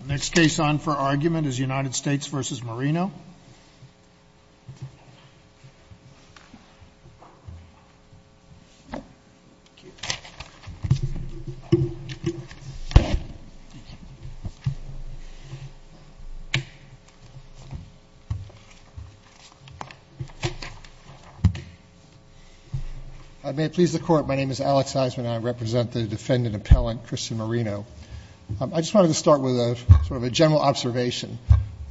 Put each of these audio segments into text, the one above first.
The next case on for argument is United States v. Marino. I may please the Court. My name is Alex Eisman and I represent the defendant appellant Christian Marino. I just wanted to start with a sort of a general observation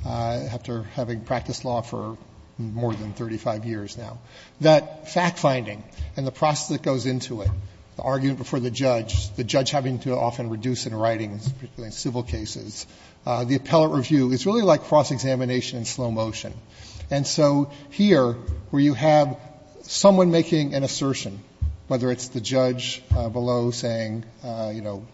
after having practiced law for more than 35 years now. That fact-finding and the process that goes into it, the argument before the judge, the judge having to often reduce in writing, particularly in civil cases, the appellate review is really like cross-examination in slow motion. And so here, where you have someone making an assertion, whether it's the judge below saying, you know,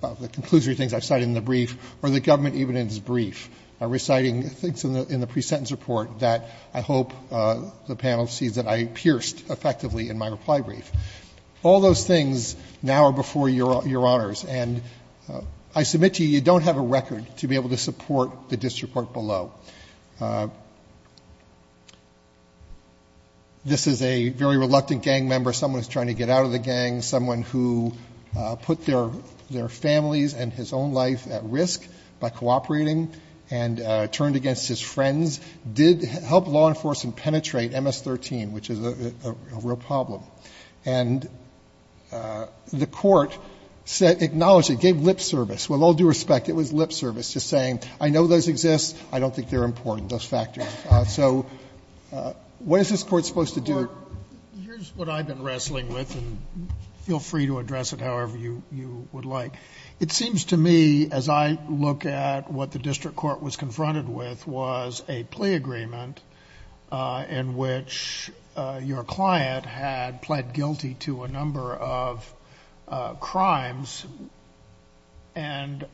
the conclusory things I've cited in the brief, or the government even in his brief reciting things in the pre-sentence report that I hope the panel sees that I pierced effectively in my reply brief. All those things now are before Your Honors. And I submit to you, you don't have a record to be able to support the disreport below. This is a very reluctant gang member. Someone is trying to get out of the gang. Someone who put their families and his own life at risk by cooperating and turned against his friends did help law enforcement penetrate MS-13, which is a real problem. And the Court said, acknowledged it, gave lip service. With all due respect, it was lip service, just saying, I know those exist. I don't think they're important, thus factoring. So what is this Court supposed to do? Sotomayor, here's what I've been wrestling with, and feel free to address it however you would like. It seems to me, as I look at what the district court was confronted with, was a plea agreement in which your client had pled guilty to a number of crimes, and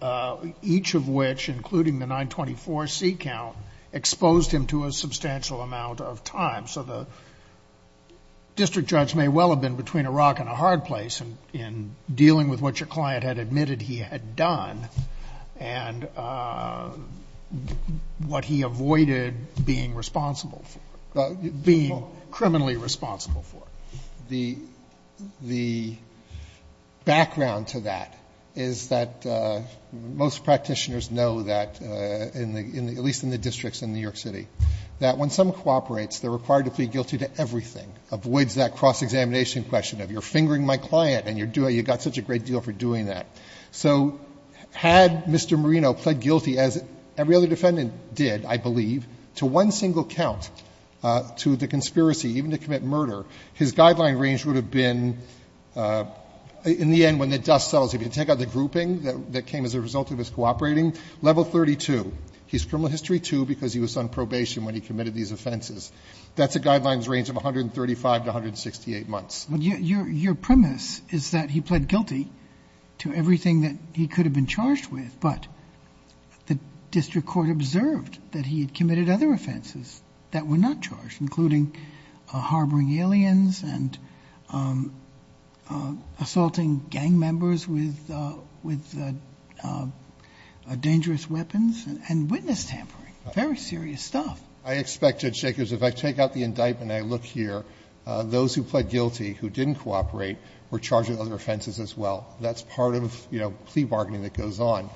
each of which, including the 924C count, exposed him to a substantial amount of time. So the district judge may well have been between a rock and a hard place in dealing with what your client had admitted he had done and what he avoided being responsible for, being criminally responsible for. The background to that is that most practitioners know that, at least in the districts in New York City, that when someone cooperates, they're required to plead guilty to everything, avoids that cross-examination question of you're fingering my client and you've got such a great deal for doing that. So had Mr. Marino pled guilty, as every other defendant did, I believe, to one single count to the conspiracy, even to commit murder, his guideline range would have been in the end, when the dust settles, if you take out the grouping that came as a result of his cooperating, level 32. He's criminal history 2 because he was on probation when he committed these offenses. That's a guidelines range of 135 to 168 months. Your premise is that he pled guilty to everything that he could have been charged with, but the district court observed that he had committed other offenses that were not charged, including harboring aliens and assaulting gang members with dangerous weapons and witness tampering, very serious stuff. I expect, Judge Jacobs, if I take out the indictment and I look here, those who pled guilty who didn't cooperate were charged with other offenses as well. That's part of, you know, plea bargaining that goes on.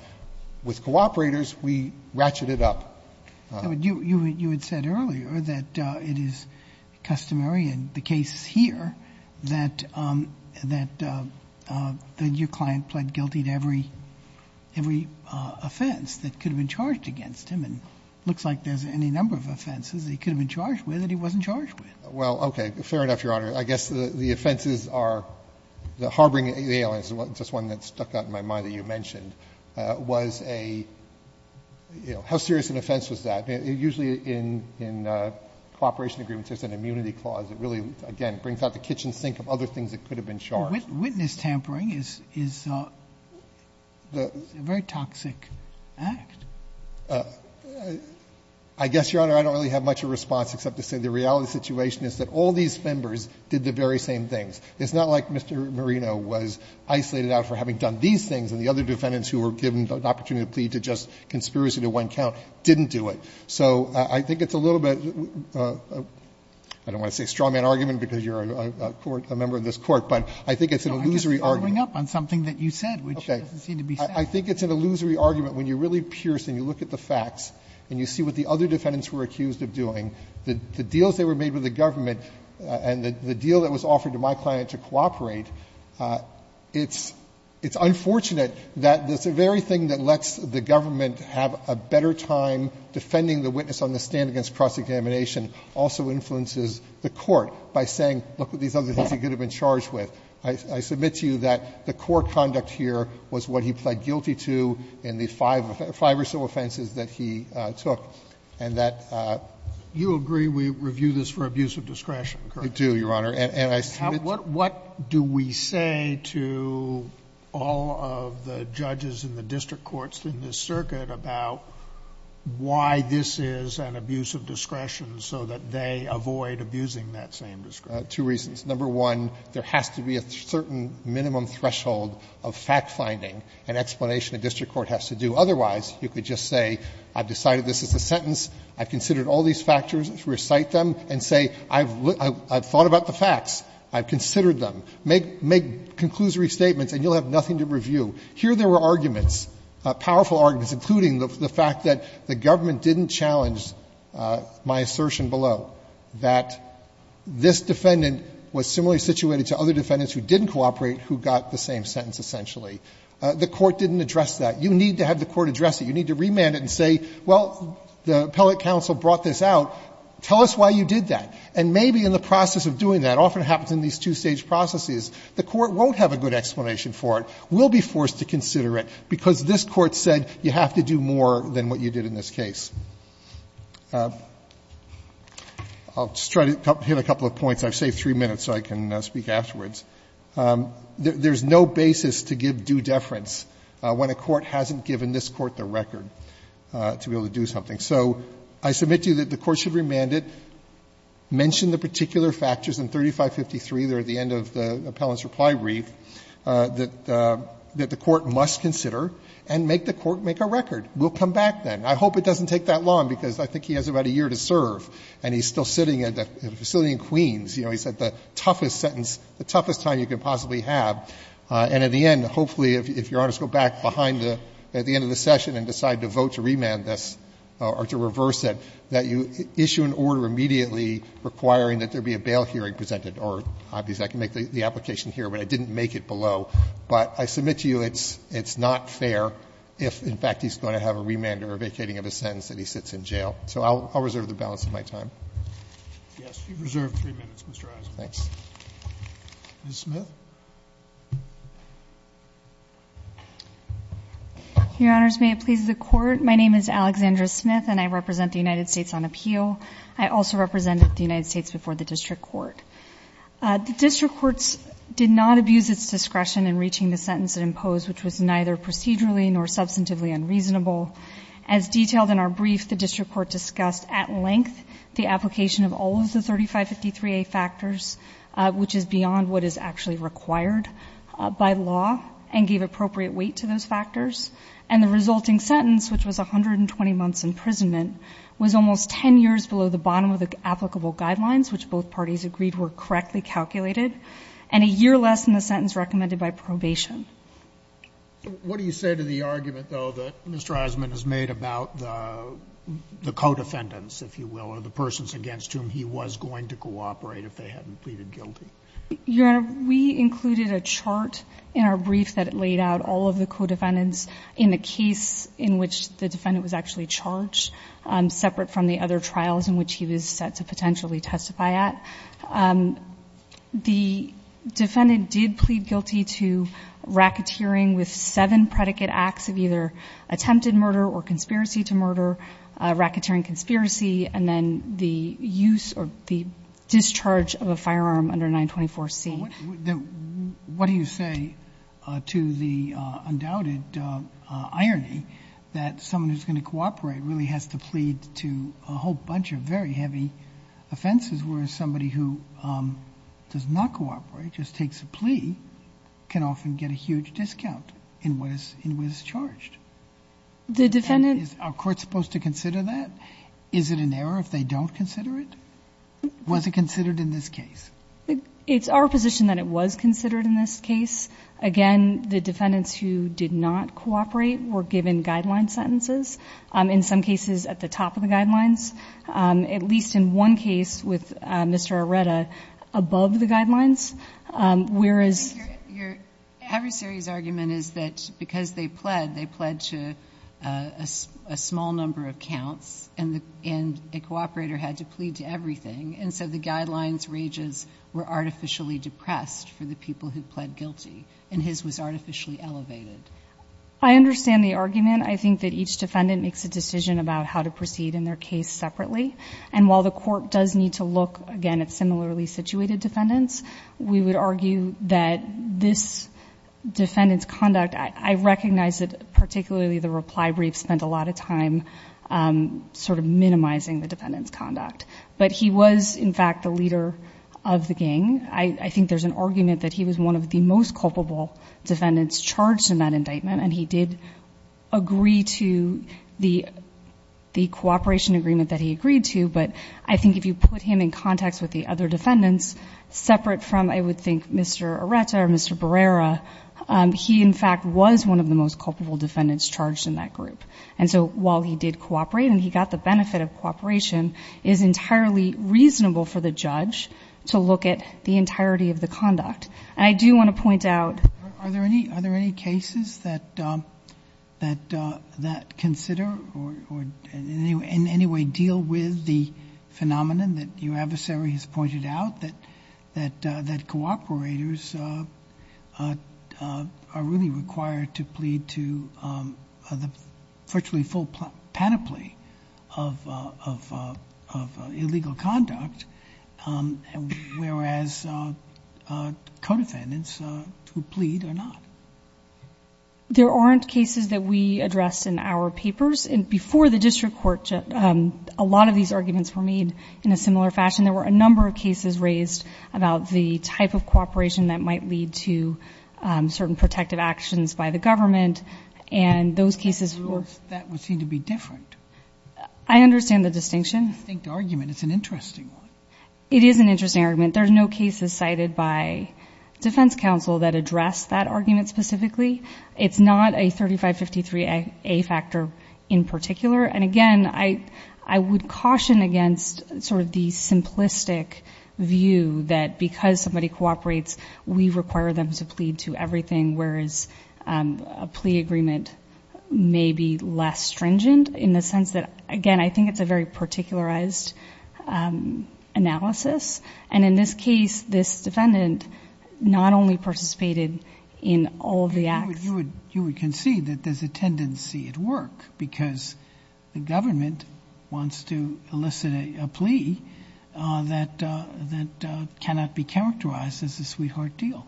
With cooperators, we ratchet it up. You had said earlier that it is customary in the case here that your client pled guilty to every offense that could have been charged against him. And it looks like there's any number of offenses he could have been charged with that he wasn't charged with. Well, okay. Fair enough, Your Honor. I guess the offenses are, the harboring aliens is just one that stuck out in my mind that you mentioned, was a, you know, how serious an offense was that? Usually in cooperation agreements, there's an immunity clause that really, again, brings out the kitchen sink of other things that could have been charged. Witness tampering is a very toxic act. I guess, Your Honor, I don't really have much of a response except to say the reality of the situation is that all these members did the very same things. It's not like Mr. Marino was isolated out for having done these things and the other defendants who were given an opportunity to plead to just conspiracy to one count didn't do it. So I think it's a little bit, I don't want to say strawman argument because you're a court, a member of this Court, but I think it's an illusory argument. I'm just following up on something that you said, which doesn't seem to be fair. I think it's an illusory argument. When you really pierce and you look at the facts and you see what the other defendants were accused of doing, the deals that were made with the government and the deal that was offered to my client to cooperate, it's unfortunate that the very thing that lets the government have a better time defending the witness on the stand against cross-examination also influences the Court by saying, look at these other things he could have been charged with. I submit to you that the court conduct here was what he pled guilty to in the five or so offenses that he took and that. You agree we review this for abuse of discretion, correct? I do, Your Honor. And I submit to you. What do we say to all of the judges in the district courts in this circuit about why this is an abuse of discretion so that they avoid abusing that same discretion? Two reasons. Number one, there has to be a certain minimum threshold of fact-finding and explanation a district court has to do. Otherwise, you could just say I've decided this is a sentence. I've considered all these factors. Recite them and say I've thought about the facts. I've considered them. Make conclusory statements and you'll have nothing to review. Here there were arguments, powerful arguments, including the fact that the government didn't challenge my assertion below, that this defendant was similarly situated to other defendants who didn't cooperate who got the same sentence essentially. The Court didn't address that. You need to have the Court address it. You need to remand it and say, well, the appellate counsel brought this out. Tell us why you did that. And maybe in the process of doing that, often it happens in these two-stage processes, the Court won't have a good explanation for it, will be forced to consider it, because this Court said you have to do more than what you did in this case. I'll just try to hit a couple of points. I've saved three minutes so I can speak afterwards. There's no basis to give due deference when a court hasn't given this court the record to be able to do something. So I submit to you that the Court should remand it, mention the particular factors in 3553, there at the end of the appellant's reply brief, that the Court must consider and make the Court make a record. We'll come back then. I hope it doesn't take that long, because I think he has about a year to serve and he's still sitting at a facility in Queens. You know, he's at the toughest sentence, the toughest time you could possibly have. And at the end, hopefully, if Your Honors go back behind the end of the session and decide to vote to remand this or to reverse it, that you issue an order immediately requiring that there be a bail hearing presented. Obviously, I can make the application here, but I didn't make it below. But I submit to you it's not fair if, in fact, he's going to have a remand or a vacating of a sentence and he sits in jail. So I'll reserve the balance of my time. Yes. You've reserved three minutes, Mr. Eisenhower. Thanks. Ms. Smith. Your Honors, may it please the Court. My name is Alexandra Smith and I represent the United States on appeal. I also represented the United States before the district court. The district courts did not abuse its discretion in reaching the sentence it imposed, which was neither procedurally nor substantively unreasonable. As detailed in our brief, the district court discussed at length the application of all of the 3553A factors, which is beyond what is actually required by law, and gave appropriate weight to those factors. And the resulting sentence, which was 120 months' imprisonment, was almost 10 years below the bottom of the applicable guidelines, which both parties agreed were correctly calculated, and a year less than the sentence recommended by probation. What do you say to the argument, though, that Mr. Eisenhower has made about the co-defendants, if you will, or the persons against whom he was going to cooperate if they hadn't pleaded guilty? Your Honor, we included a chart in our brief that laid out all of the co-defendants in the case in which the defendant was actually charged, separate from the other trials in which he was set to potentially testify at. The defendant did plead guilty to racketeering with seven predicate acts of either attempted murder or conspiracy to murder, racketeering conspiracy, and then the use or the discharge of a firearm under 924C. What do you say to the undoubted irony that someone who's going to cooperate really has to plead to a whole bunch of very heavy offenses, whereas somebody who does not cooperate, just takes a plea, can often get a huge discount in what is charged? The defendant... Are courts supposed to consider that? Is it an error if they don't consider it? Was it considered in this case? It's our position that it was considered in this case. Again, the defendants who did not cooperate were given guideline sentences. In some cases, at the top of the guidelines. At least in one case with Mr. Arreta, above the guidelines, whereas... Your heavy-series argument is that because they pled, they pled to a small number of counts, and a cooperator had to plead to everything, and so the guidelines ranges were artificially depressed for the people who pled guilty, and his was artificially elevated. I understand the argument. I think that each defendant makes a decision about how to proceed in their case separately, and while the court does need to look, again, at similarly situated defendants, we would argue that this defendant's conduct... I recognize that particularly the reply brief spent a lot of time sort of minimizing the defendant's conduct, but he was, in fact, the leader of the gang. I think there's an argument that he was one of the most culpable defendants charged in that indictment, and he did agree to the cooperation agreement that he agreed to, but I think if you put him in context with the other defendants, separate from, I would think, Mr. Arreta or Mr. Barrera, he, in fact, was one of the most culpable defendants charged in that group. And so, while he did cooperate and he got the benefit of cooperation, it is entirely reasonable for the judge to look at the entirety of the conduct. And I do want to point out... Are there any cases that consider or in any way deal with the phenomenon that your adversary has pointed out, that cooperators are really required to plead to the virtually full panoply of illegal conduct, whereas co-defendants who plead are not? There aren't cases that we address in our papers. Before the district court, a lot of these arguments were made in a similar fashion. There were a number of cases raised about the type of cooperation that might lead to certain protective actions by the government, and those cases were... That would seem to be different. I understand the distinction. It's an interesting one. It is an interesting argument. There are no cases cited by defense counsel that address that argument specifically. It's not a 3553A factor in particular. And, again, I would caution against sort of the simplistic view that because somebody cooperates, we require them to plead to everything, whereas a plea agreement may be less stringent, in the sense that, again, I think it's a very particularized analysis. And in this case, this defendant not only participated in all of the acts... You would concede that there's a tendency at work because the government wants to elicit a plea that cannot be characterized as a sweetheart deal.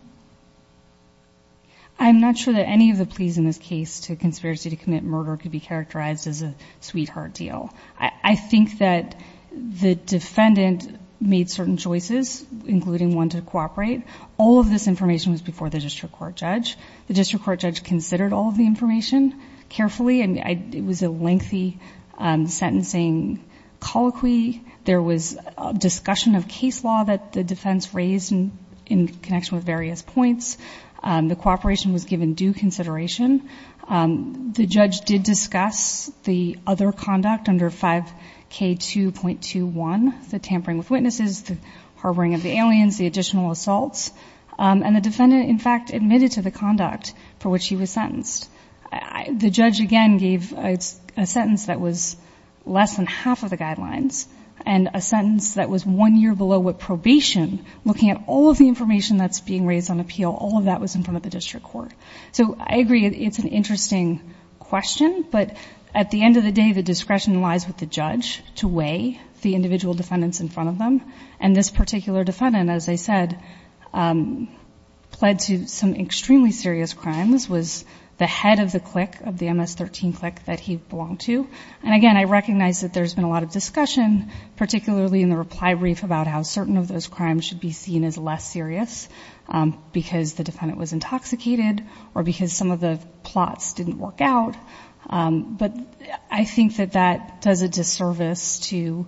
I'm not sure that any of the pleas in this case to conspiracy to commit murder could be characterized as a sweetheart deal. I think that the defendant made certain choices, including one to cooperate. All of this information was before the district court judge. The district court judge considered all of the information carefully, and it was a lengthy sentencing colloquy. There was a discussion of case law that the defense raised in connection with various points. The cooperation was given due consideration. The judge did discuss the other conduct under 5K2.21, the tampering with witnesses, the harboring of the aliens, the additional assaults. And the defendant, in fact, admitted to the conduct for which he was sentenced. The judge, again, gave a sentence that was less than half of the guidelines, and a sentence that was one year below probation, looking at all of the information that's being raised on appeal. All of that was in front of the district court. So, I agree, it's an interesting question. But, at the end of the day, the discretion lies with the judge to weigh the individual defendants in front of them. And this particular defendant, as I said, pled to some extremely serious crimes, was the head of the clique, of the MS-13 clique that he belonged to. And, again, I recognize that there's been a lot of discussion, particularly in the reply brief, about how certain of those crimes should be seen as less serious because the defendant was intoxicated or because some of the plots didn't work out. But I think that that does a disservice to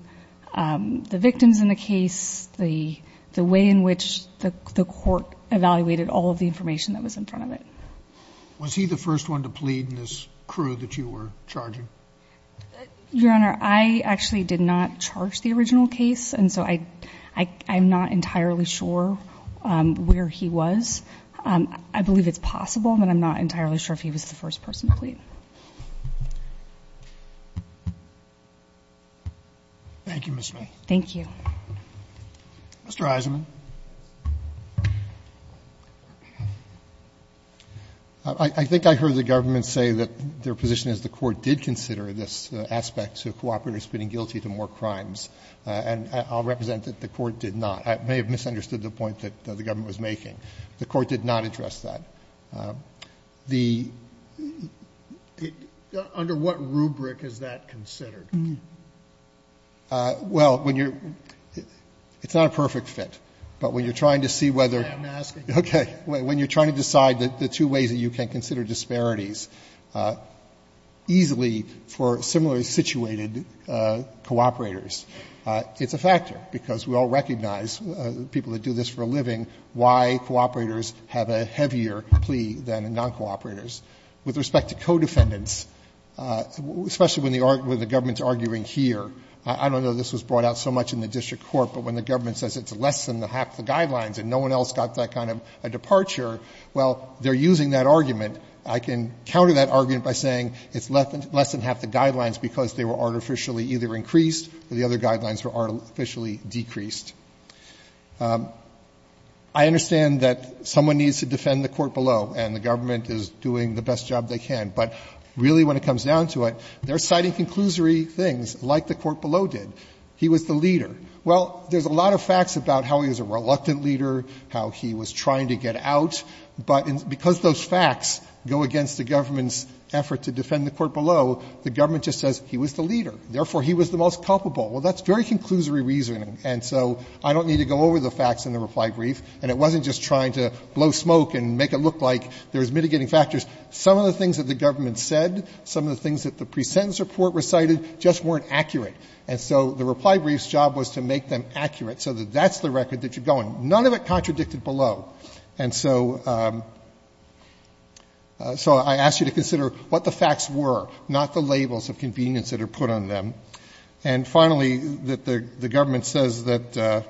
the victims in the case, the way in which the court evaluated all of the information that was in front of it. Was he the first one to plead in this crew that you were charging? Your Honor, I actually did not charge the original case, and so I'm not entirely sure where he was. I believe it's possible, but I'm not entirely sure if he was the first person to plead. Thank you, Ms. Smith. Thank you. Mr. Eisenman. I think I heard the government say that their position is the court did consider this aspect of cooperators being guilty to more crimes. And I'll represent that the court did not. I may have misunderstood the point that the government was making. The court did not address that. The ---- Under what rubric is that considered? Well, when you're ---- it's not a perfect fit, but when you're trying to see whether I'm asking. Okay. When you're trying to decide the two ways that you can consider disparities easily for similarly situated cooperators, it's a factor, because we all recognize people that do this for a living, why cooperators have a heavier plea than non-cooperators. With respect to co-defendants, especially when the government's arguing here, I don't know this was brought out so much in the district court, but when the government says it's less than half the guidelines and no one else got that kind of a departure, well, they're using that argument. I can counter that argument by saying it's less than half the guidelines because they were artificially either increased or the other guidelines were artificially decreased. I understand that someone needs to defend the court below and the government is doing the best job they can, but really when it comes down to it, they're citing conclusory things like the court below did. He was the leader. Well, there's a lot of facts about how he was a reluctant leader, how he was trying to get out, but because those facts go against the government's effort to defend the court below, the government just says he was the leader. Therefore, he was the most culpable. Well, that's very conclusory reasoning. And so I don't need to go over the facts in the reply brief, and it wasn't just trying to blow smoke and make it look like there was mitigating factors. Some of the things that the government said, some of the things that the presentence report recited just weren't accurate. And so the reply brief's job was to make them accurate so that that's the record that you're going. None of it contradicted below. And so I ask you to consider what the facts were, not the labels of convenience that are put on them. And finally, the government says that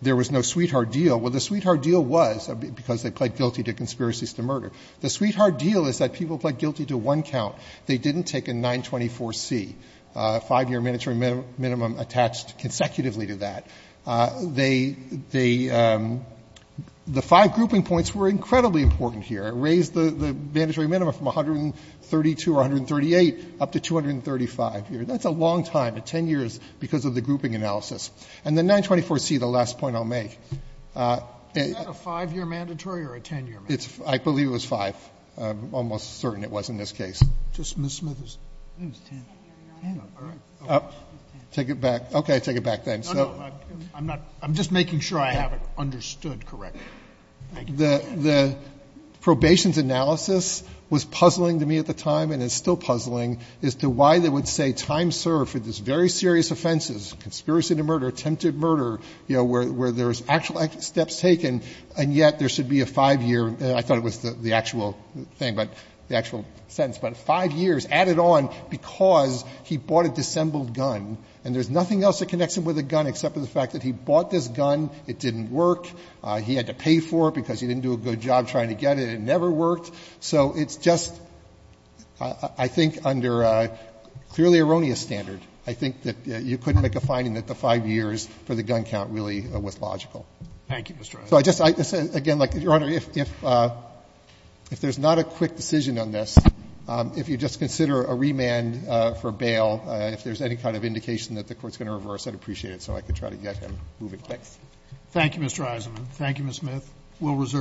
there was no sweetheart deal. Well, the sweetheart deal was because they pled guilty to conspiracies to murder. The sweetheart deal is that people pled guilty to one count. They didn't take a 924C, a 5-year mandatory minimum attached consecutively to that. The five grouping points were incredibly important here. It raised the mandatory minimum from 132 or 138 up to 235. That's a long time, 10 years, because of the grouping analysis. And the 924C, the last point I'll make. Sotomayor, is that a 5-year mandatory or a 10-year mandatory? I believe it was 5. I'm almost certain it was in this case. Take it back. Okay, take it back then. I'm just making sure I have it understood correctly. Thank you. The probation's analysis was puzzling to me at the time, and it's still puzzling, as to why they would say time served for these very serious offenses, conspiracy to murder, attempted murder, where there's actual steps taken, and yet there should be a 5-year. I thought it was the actual thing, the actual sentence. But 5 years added on because he bought a dissembled gun, and there's nothing else that connects him with a gun except for the fact that he bought this gun. It didn't work. He had to pay for it because he didn't do a good job trying to get it. It never worked. So it's just, I think, under a clearly erroneous standard, I think that you couldn't make a finding that the 5 years for the gun count really was logical. Thank you, Mr. O'Connor. Again, Your Honor, if there's not a quick decision on this, if you just consider a remand for bail, if there's any kind of indication that the Court's going to reverse, I'd appreciate it, so I could try to get him moving. Thanks. Thank you, Mr. Eisenman. Thank you, Ms. Smith. We'll reserve the floor.